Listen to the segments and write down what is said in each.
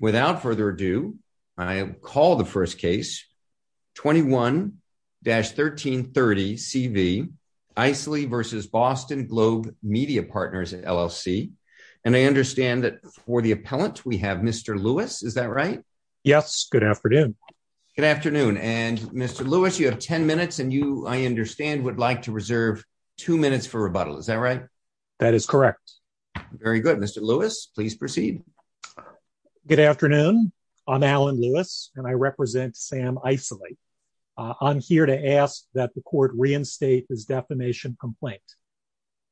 Without further ado, I call the first case, 21-1330CV, Isaly v. Boston Globe Media Partners LLC. And I understand that for the appellant, we have Mr. Lewis, is that right? Yes, good afternoon. Good afternoon, and Mr. Lewis, you have 10 minutes and you, I understand, would like to reserve two minutes for rebuttal, is that right? That is correct. Very good, Mr. Lewis, please proceed. Good afternoon, I'm Alan Lewis, and I represent Sam Isaly. I'm here to ask that the court reinstate his defamation complaint.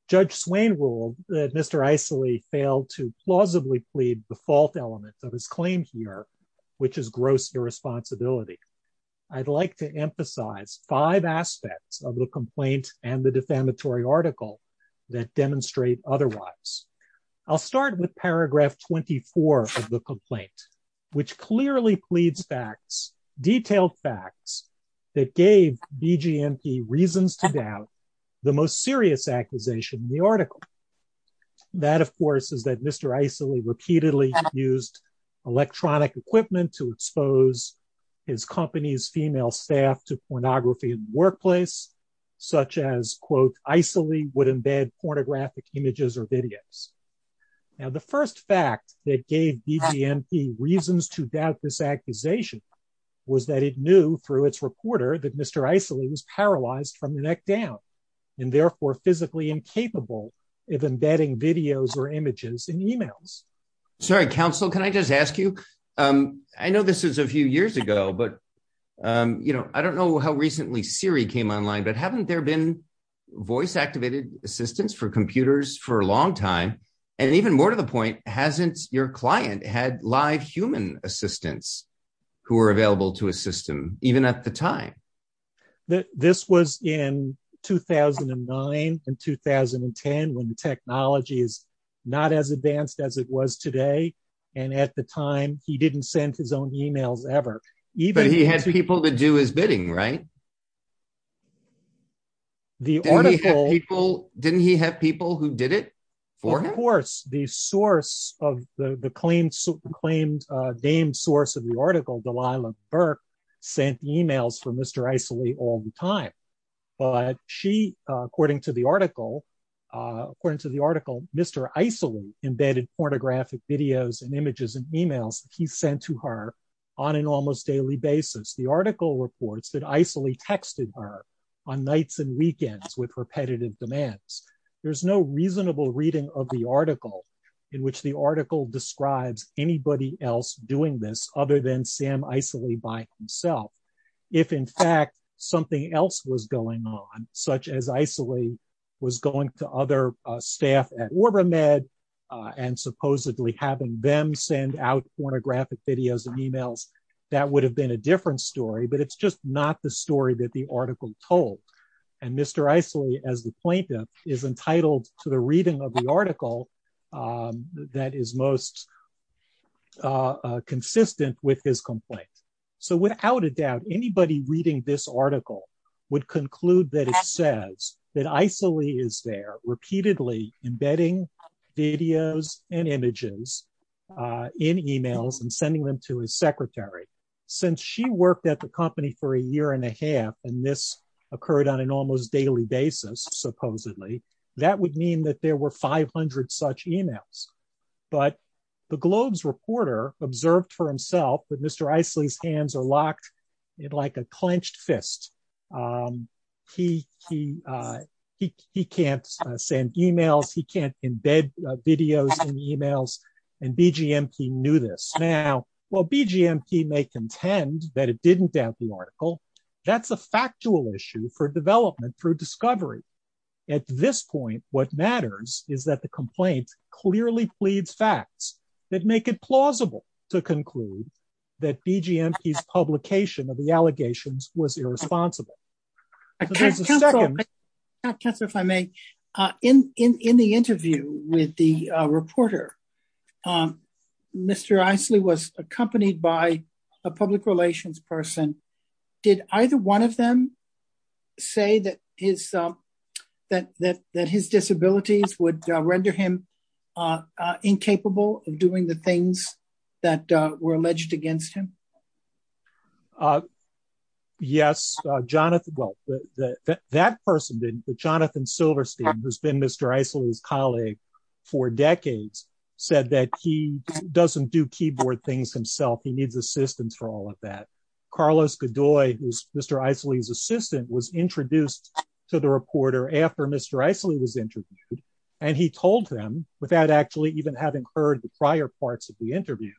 Judge Swain ruled that Mr. Isaly failed to plausibly plead the fault element of his claim here, which is gross irresponsibility. I'd like to emphasize five aspects of the complaint and the defamatory article that demonstrate otherwise. I'll start with paragraph 24 of the complaint, which clearly pleads facts, detailed facts, that gave BGMP reasons to doubt the most serious accusation in the article. That, of course, is that Mr. Isaly repeatedly used electronic equipment to expose his company's female staff to pornography in the workplace, such as, quote, Isaly would embed pornographic images or videos. Now, the first fact that gave BGMP reasons to doubt this accusation was that it knew, through its reporter, that Mr. Isaly was paralyzed from the neck down, and therefore physically incapable of embedding videos or images in emails. Sorry, counsel, can I just ask you? I know this is a few years ago, but, you know, I don't know how recently Siri came online, but haven't there been voice-activated assistants for computers for a long time? And even more to the point, hasn't your client had live human assistants who were available to assist him, even at the time? This was in 2009 and 2010, when technology is not as advanced as it was today, and at the time, he didn't send his own emails ever. Even- But he had people to do his bidding, right? The article- Didn't he have people who did it for him? Of course. The source of the claimed, named source of the article, Delilah Burke, sent emails for Mr. Isaly all the time. But she, according to the article, according to the article, Mr. Isaly embedded pornographic videos and images in emails that he sent to her on an almost daily basis. The article reports that Isaly texted her on nights and weekends with repetitive demands. There's no reasonable reading of the article in which the article describes anybody else doing this other than Sam Isaly by himself. If, in fact, something else was going on, such as Isaly was going to other staff at OrbaMed and supposedly having them send out pornographic videos and emails, that would have been a different story, but it's just not the story that the article told. And Mr. Isaly, as the plaintiff, is entitled to the reading of the article that is most consistent with his complaint. So without a doubt, anybody reading this article would conclude that it says that Isaly is there repeatedly embedding videos and images in emails and sending them to his secretary. Since she worked at the company for a year and a half, and this occurred on an almost daily basis, supposedly, that would mean that there were 500 such emails. But the Globe's reporter observed for himself that Mr. Isaly's hands are locked like a clenched fist. He can't send emails, he can't embed videos in emails, and BGMP knew this. Now, while BGMP may contend that it didn't doubt the article, that's a factual issue for development through discovery. At this point, what matters is that the complaint clearly pleads facts that make it plausible to conclude that BGMP's publication of the allegations was irresponsible. So there's a second- Councillor, if I may, in the interview with the reporter, Mr. Isaly was accompanied by a public relations person. Did either one of them say that his disabilities would render him incapable of doing the things that were alleged against him? Yes, Jonathan, well, that person, Jonathan Silverstein, who's been Mr. Isaly's colleague for decades, said that he doesn't do keyboard things himself, he needs assistance for all of that. Carlos Godoy, who's Mr. Isaly's assistant, was introduced to the reporter after Mr. Isaly was interviewed, and he told him, without actually even having heard the prior parts of the interview,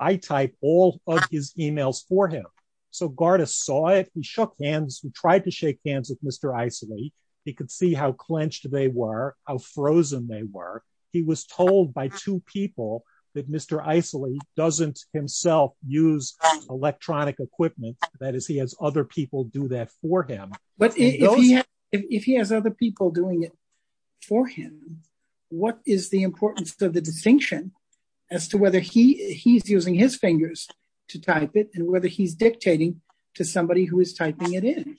I type all of his emails for him. So Garda saw it, he shook hands, he tried to shake hands with Mr. Isaly, he could see how clenched they were, how frozen they were. He was told by two people that Mr. Isaly doesn't himself use electronic equipment, that is, he has other people do that for him. But if he has other people doing it for him, what is the importance of the distinction as to whether he's using his fingers to type it and whether he's dictating to somebody who is typing it in?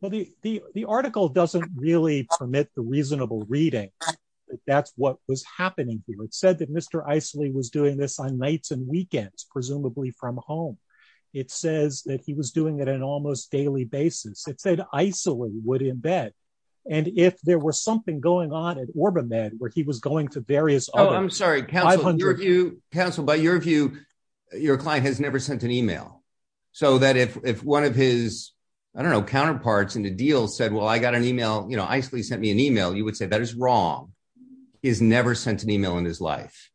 Well, the article doesn't really permit the reasonable reading, that's what was happening here. It said that Mr. Isaly was doing this on nights and weekends, presumably from home. It says that he was doing it on an almost daily basis. It said Isaly would embed. And if there was something going on at OrbaMed where he was going to various other- Oh, I'm sorry, counsel, by your view, your client has never sent an email. So that if one of his, I don't know, counterparts in the deal said, well, I got an email, Isaly sent me an email, you would say that is wrong. He's never sent an email in his life.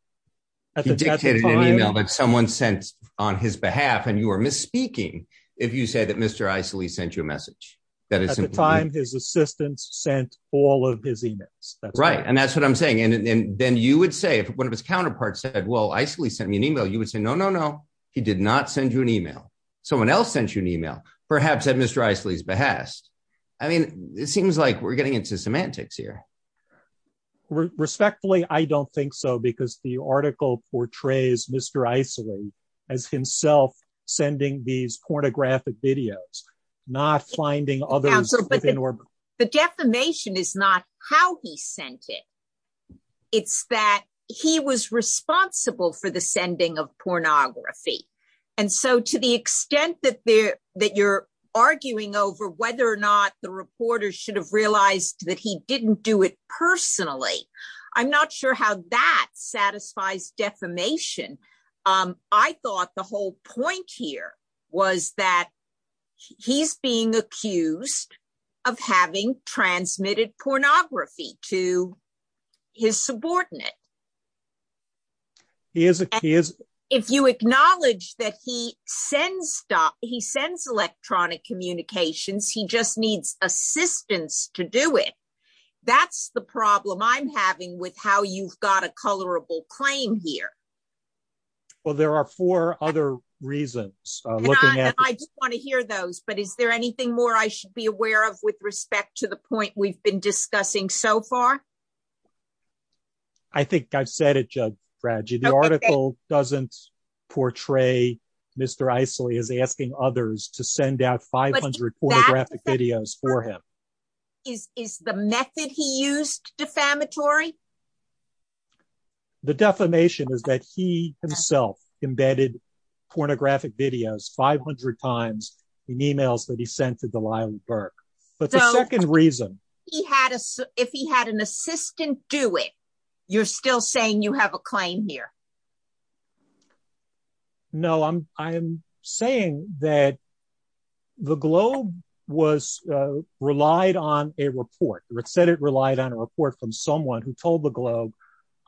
He dictated an email that someone sent on his behalf and you are misspeaking if you say that Mr. Isaly sent you a message. That is simply- At the time, his assistants sent all of his emails. Right, and that's what I'm saying. And then you would say, if one of his counterparts said, well, Isaly sent me an email, you would say, no, no, no, he did not send you an email. Someone else sent you an email, perhaps at Mr. Isaly's behest. I mean, it seems like we're getting into semantics here. Respectfully, I don't think so because the article portrays Mr. Isaly as himself sending these pornographic videos, not finding others within orbit. The defamation is not how he sent it. It's that he was responsible for the sending of pornography. And so to the extent that you're arguing over whether or not the reporter should have realized that he didn't do it personally, I'm not sure how that satisfies defamation. I thought the whole point here was that he's being accused of having transmitted pornography to his subordinate. He is- If you acknowledge that he sends electronic communications he just needs assistance to do it. That's the problem I'm having with how you've got a colorable claim here. Well, there are four other reasons looking at this. I just want to hear those, but is there anything more I should be aware of with respect to the point we've been discussing so far? I think I've said it, Judge Fradji. The article doesn't portray Mr. Isaly as asking others to send out 500 pornographic videos for him. Is the method he used defamatory? The defamation is that he himself embedded pornographic videos 500 times in emails that he sent to Delilah Burke. But the second reason- If he had an assistant do it, you're still saying you have a claim here. No, I'm saying that the Globe was relied on a report. It said it relied on a report from someone who told the Globe,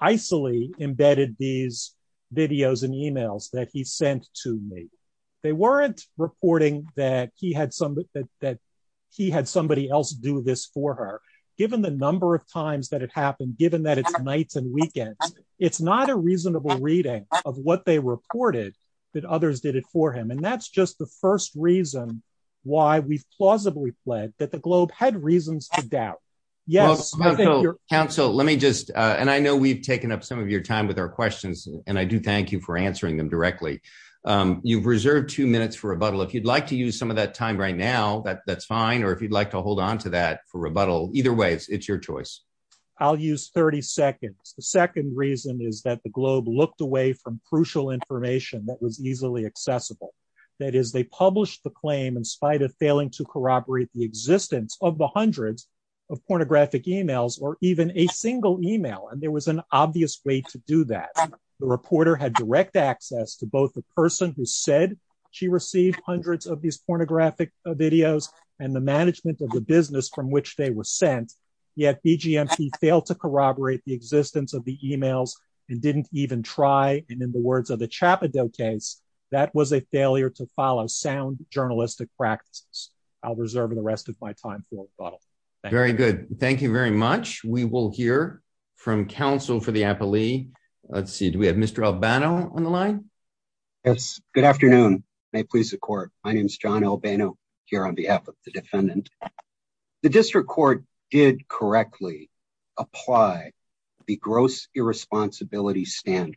Isaly embedded these videos and emails that he sent to me. They weren't reporting that he had somebody else do this for her. Given the number of times that it happened, given that it's nights and weekends, it's not a reasonable reading of what they reported that others did it for him. And that's just the first reason why we've plausibly pled that the Globe had reasons to doubt. Yes, I think you're- Counsel, let me just, and I know we've taken up some of your time with our questions, and I do thank you for answering them directly. You've reserved two minutes for rebuttal. If you'd like to use some of that time right now, that's fine. Or if you'd like to hold onto that for rebuttal, either way, it's your choice. I'll use 30 seconds. The second reason is that the Globe looked away from crucial information that was easily accessible. That is, they published the claim in spite of failing to corroborate the existence of the hundreds of pornographic emails or even a single email. And there was an obvious way to do that. The reporter had direct access to both the person who said she received hundreds of these pornographic videos and the management of the business from which they were sent, yet BGMP failed to corroborate the existence of the emails and didn't even try. And in the words of the Chappadoke case, that was a failure to follow sound journalistic practices. I'll reserve the rest of my time for rebuttal. Thank you. Very good. Thank you very much. We will hear from counsel for the appellee. Let's see. Do we have Mr. Albano on the line? Yes. Good afternoon. May it please the court. My name is John Albano here on behalf of the defendant. The district court did correctly apply the gross irresponsibility standard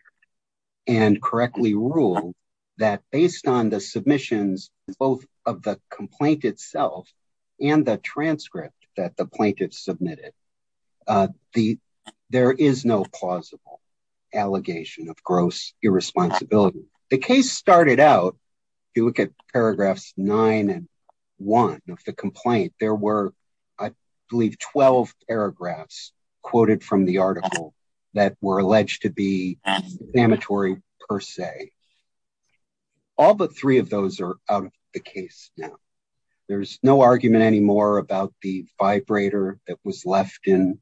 and correctly ruled that based on the submissions, both of the complaint itself and the transcript that the plaintiff submitted, there is no plausible allegation of gross irresponsibility. The case started out, if you look at paragraphs nine and one of the complaint, there were, I believe, 12 paragraphs quoted from the article that were alleged to be examinatory per se. All but three of those are out of the case now. There's no argument anymore about the vibrator that was left in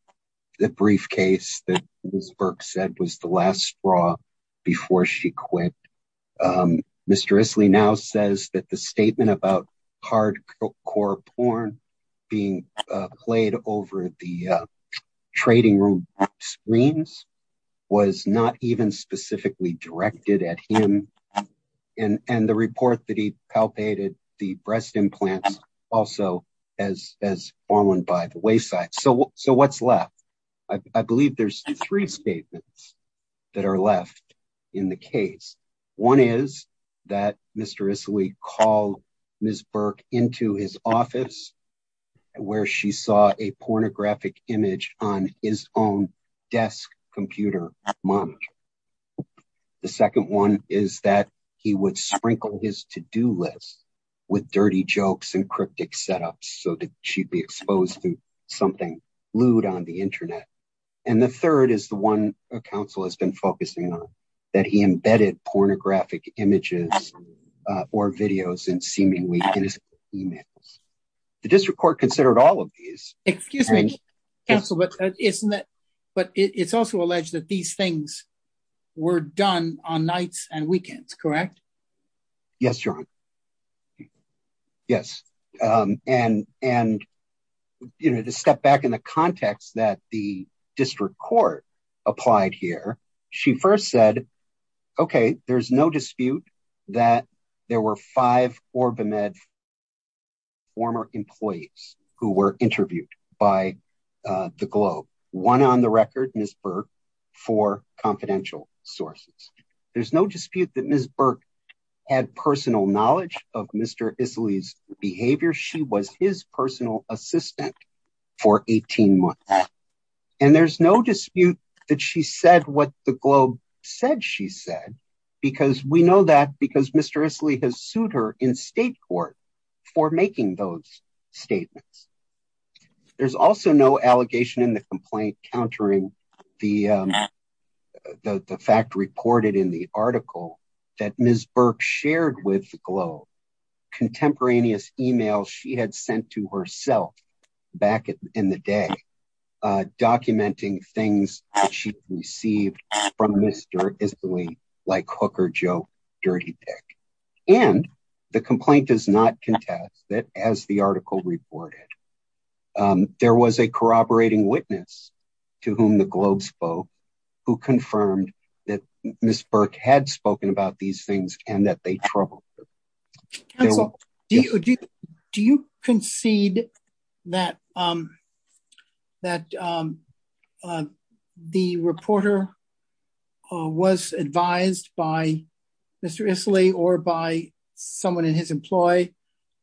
the briefcase that Ms. Burke said was the last straw before she quit. Mr. Isley now says that the statement about hardcore porn being played over the trading room screens was not even specifically directed at him. And the report that he palpated the breast implants also as fallen by the wayside. So what's left? I believe there's three statements that are left in the case. One is that Mr. Isley called Ms. Burke into his office where she saw a pornographic image on his own desk computer monitor. The second one is that he would sprinkle his to-do list with dirty jokes and cryptic setups so that she'd be exposed to something lewd on the internet. And the third is the one counsel has been focusing on that he embedded pornographic images or videos in seemingly innocent emails. The district court considered all of these. Excuse me, counsel, but it's also alleged that these things were done on nights and weekends, correct? Yes, John, yes. And, you know, to step back in the context that the district court applied here, she first said, okay, there's no dispute that there were five OrbaMed former employees who were interviewed by the Globe. One on the record, Ms. Burke, for confidential sources. There's no dispute that Ms. Burke had personal knowledge of Mr. Isley's behavior. She was his personal assistant for 18 months. And there's no dispute that she said what the Globe said she said, because we know that because Mr. Isley has sued her in state court for making those statements. There's also no allegation in the complaint countering the fact reported in the article that Ms. Burke shared with the Globe contemporaneous emails she had sent to herself back in the day, documenting things that she received from Mr. Isley like hook or joke, dirty pick. And the complaint does not contest that as the article reported, there was a corroborating witness to whom the Globe spoke who confirmed that Ms. Burke had spoken about these things and that they troubled her. Counsel, do you concede that the reporter was advised by Mr. Isley or by someone in his employee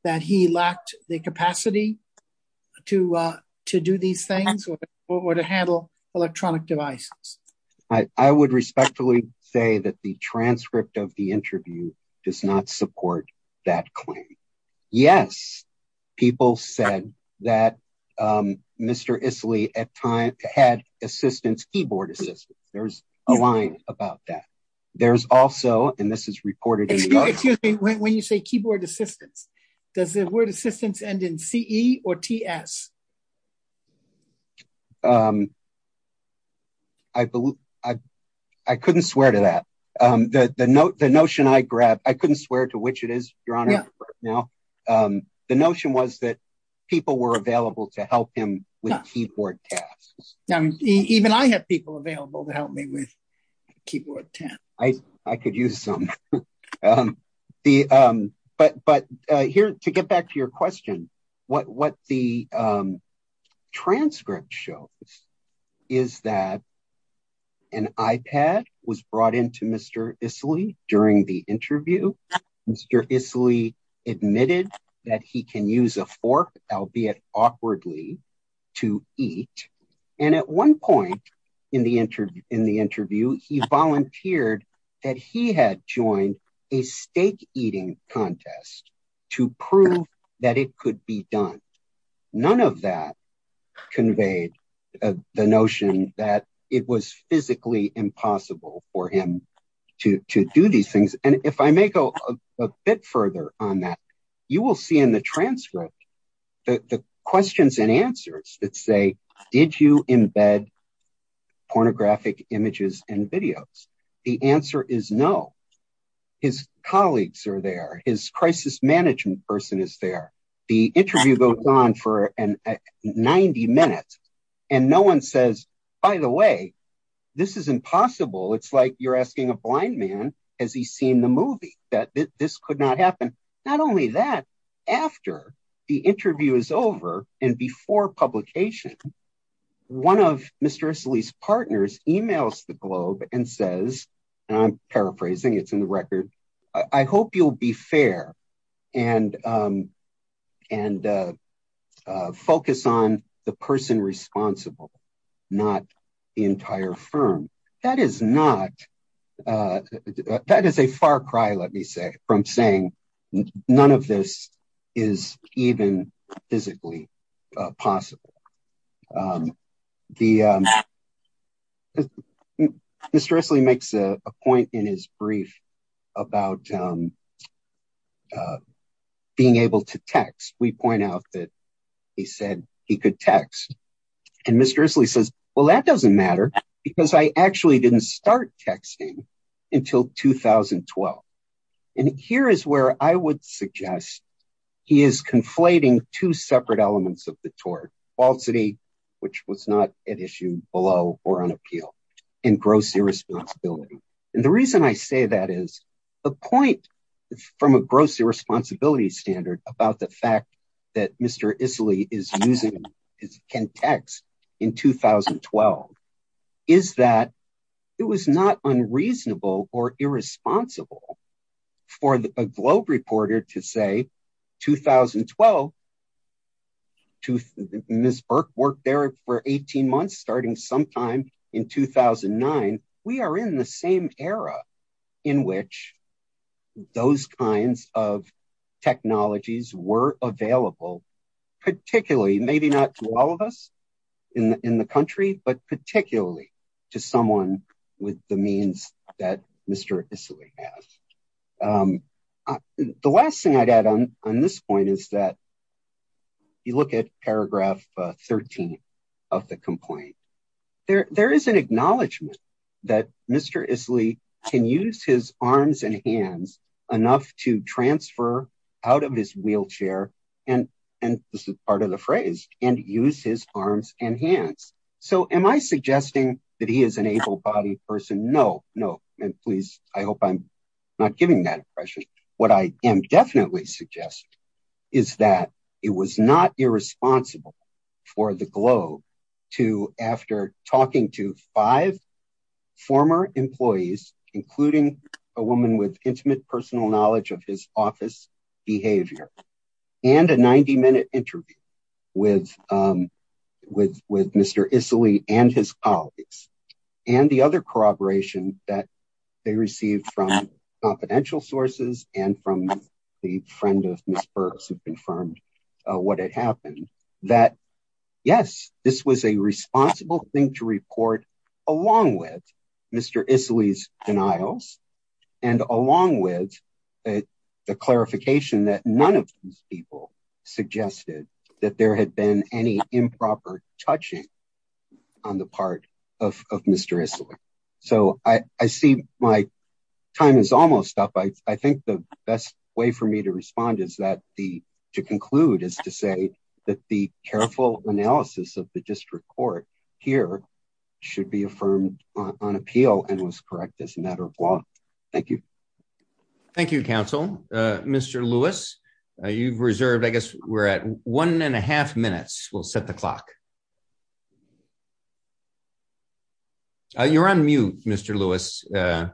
that he lacked the capacity to do these things or to handle electronic devices? I would respectfully say that the transcript of the interview does not support that claim. Yes, people said that Mr. Isley at time had assistance, keyboard assistance. There's a line about that. There's also, and this is reported in the- Excuse me, when you say keyboard assistance, does the word assistance end in C-E or T-S? I couldn't swear to that. The notion I grabbed, I couldn't swear to which it is, Your Honor, for now. The notion was that people were available to help him with keyboard tasks. Even I have people available to help me with keyboard tasks. I could use some. But here, to get back to your question, what the transcript shows is that an iPad was brought into Mr. Isley during the interview. Mr. Isley admitted that he can use a fork, albeit awkwardly, to eat. And at one point in the interview, he volunteered that he had joined a steak eating contest to prove that it could be done. None of that conveyed the notion that it was physically impossible for him to do these things. And if I may go a bit further on that, you will see in the transcript the questions and answers that say, did you embed pornographic images and videos? The answer is no. His colleagues are there. His crisis management person is there. The interview goes on for 90 minutes, and no one says, by the way, this is impossible. It's like you're asking a blind man, has he seen the movie? That this could not happen. Not only that, after the interview is over and before publication, one of Mr. Isley's partners emails the Globe and says, and I'm paraphrasing, it's in the record, I hope you'll be fair and focus on the person responsible not the entire firm. That is not, that is a far cry, let me say, from saying none of this is even physically possible. Mr. Isley makes a point in his brief about being able to text. We point out that he said he could text. And Mr. Isley says, well, that doesn't matter because I actually didn't start texting until 2012. And here is where I would suggest he is conflating two separate elements of the tort, falsity, which was not at issue below or on appeal, and gross irresponsibility. And the reason I say that is the point from a gross irresponsibility standard about the fact that Mr. Isley is using, is can text in 2012, is that it was not unreasonable or irresponsible for a Globe reporter to say, 2012, Ms. Burke worked there for 18 months starting sometime in 2009. We are in the same era in which those kinds of technologies were available, particularly, maybe not to all of us in the country, but particularly to someone with the means that Mr. Isley has. The last thing I'd add on this point is that you look at paragraph 13 of the complaint. There is an acknowledgement that Mr. Isley can use his arms and hands enough to transfer out of his wheelchair, and this is part of the phrase, and use his arms and hands. So am I suggesting that he is an able-bodied person? No, no, and please, I hope I'm not giving that impression. What I am definitely suggesting is that it was not irresponsible for the Globe to, after talking to five former employees, including a woman with intimate personal knowledge of his office behavior, and a 90-minute interview with Mr. Isley and his colleagues, and the other corroboration that they received from confidential sources and from the friend of Ms. Burke who confirmed what had happened, that yes, this was a responsible thing to report along with Mr. Isley's denials, and along with the clarification that none of these people suggested that there had been any improper touching on the part of Mr. Isley. So I see my time is almost up. I think the best way for me to respond is that the, to conclude is to say that the careful analysis of the district court here should be affirmed on appeal and was correct as a matter of law. Thank you. Thank you, counsel. Mr. Lewis, you've reserved, I guess we're at one and a half minutes. We'll set the clock. You're on mute, Mr. Lewis, and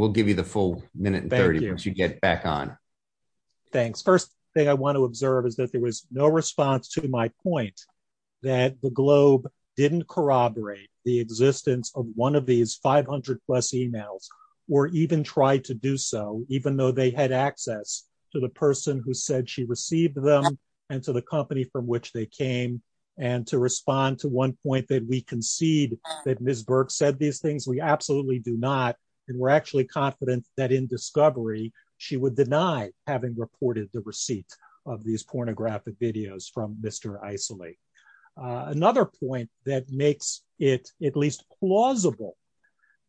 we'll give you the full minute and 30 once you get back on. Thanks. First thing I want to observe is that there was no response to my point that the Globe didn't corroborate the existence of one of these 500 plus emails, or even tried to do so, even though they had access to the person who said she received them and to the company from which they came and to respond to one point that we concede that Ms. Burke said these things, we absolutely do not. And we're actually confident that in discovery, she would deny having reported the receipt of these pornographic videos from Mr. Isley. Another point that makes it at least plausible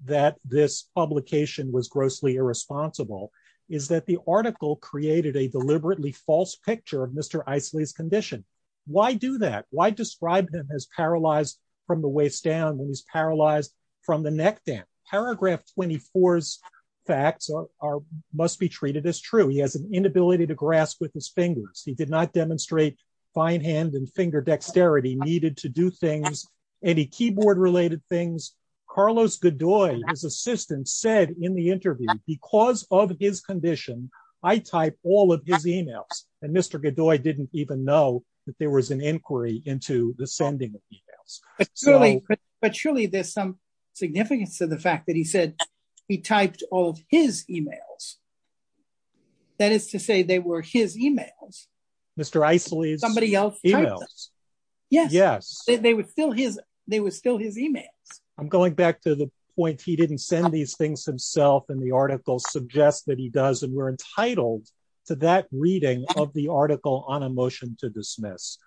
that this publication was grossly irresponsible is that the article created a deliberately false picture of Mr. Isley's condition. Why do that? Why describe him as paralyzed from the waist down when he's paralyzed from the neck down? Paragraph 24's facts must be treated as true. He has an inability to grasp with his fingers. He did not demonstrate fine hand and finger dexterity needed to do things, any keyboard related things. Carlos Godoy, his assistant said in the interview, because of his condition, I type all of his emails. And Mr. Godoy didn't even know that there was an inquiry into the sending of emails. But surely there's some significance to the fact that he said he typed all of his emails. That is to say they were his emails. Mr. Isley's emails. Yes. They were still his emails. I'm going back to the point, he didn't send these things himself and the article suggests that he does. And we're entitled to that reading of the article on a motion to dismiss.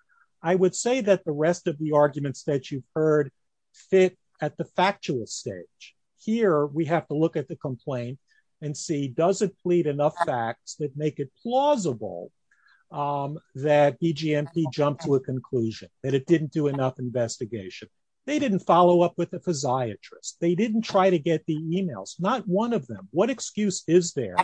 I would say that the rest of the arguments that you've heard fit at the factual stage. Here, we have to look at the complaint and see does it plead enough facts that make it plausible that EGMP jumped to a conclusion, that it didn't do enough investigation. They didn't follow up with a physiatrist. They didn't try to get the emails, not one of them. What excuse is there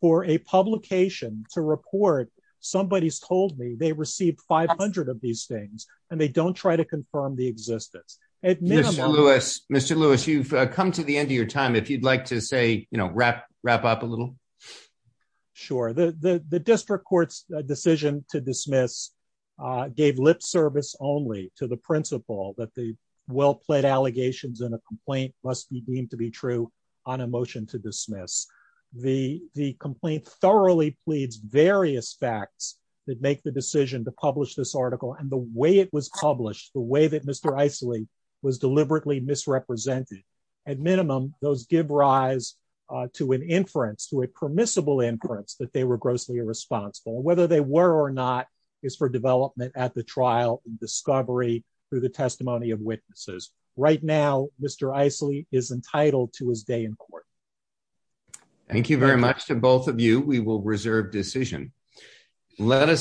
for a publication to report somebody's told me they received 500 of these things and they don't try to confirm the existence. At minimum- Mr. Lewis, you've come to the end of your time. If you'd like to say, wrap up a little. Sure. The district court's decision to dismiss gave lip service only to the principle that the well-plaid allegations in a complaint must be deemed to be true on a motion to dismiss. The complaint thoroughly pleads various facts that make the decision to publish this article and the way it was published, the way that Mr. Isley was deliberately misrepresented. At minimum, those give rise to an inference, to a permissible inference that they were grossly irresponsible. Whether they were or not is for development at the trial and discovery through the testimony of witnesses. Right now, Mr. Isley is entitled to his day in court. We will reserve decision. Let us-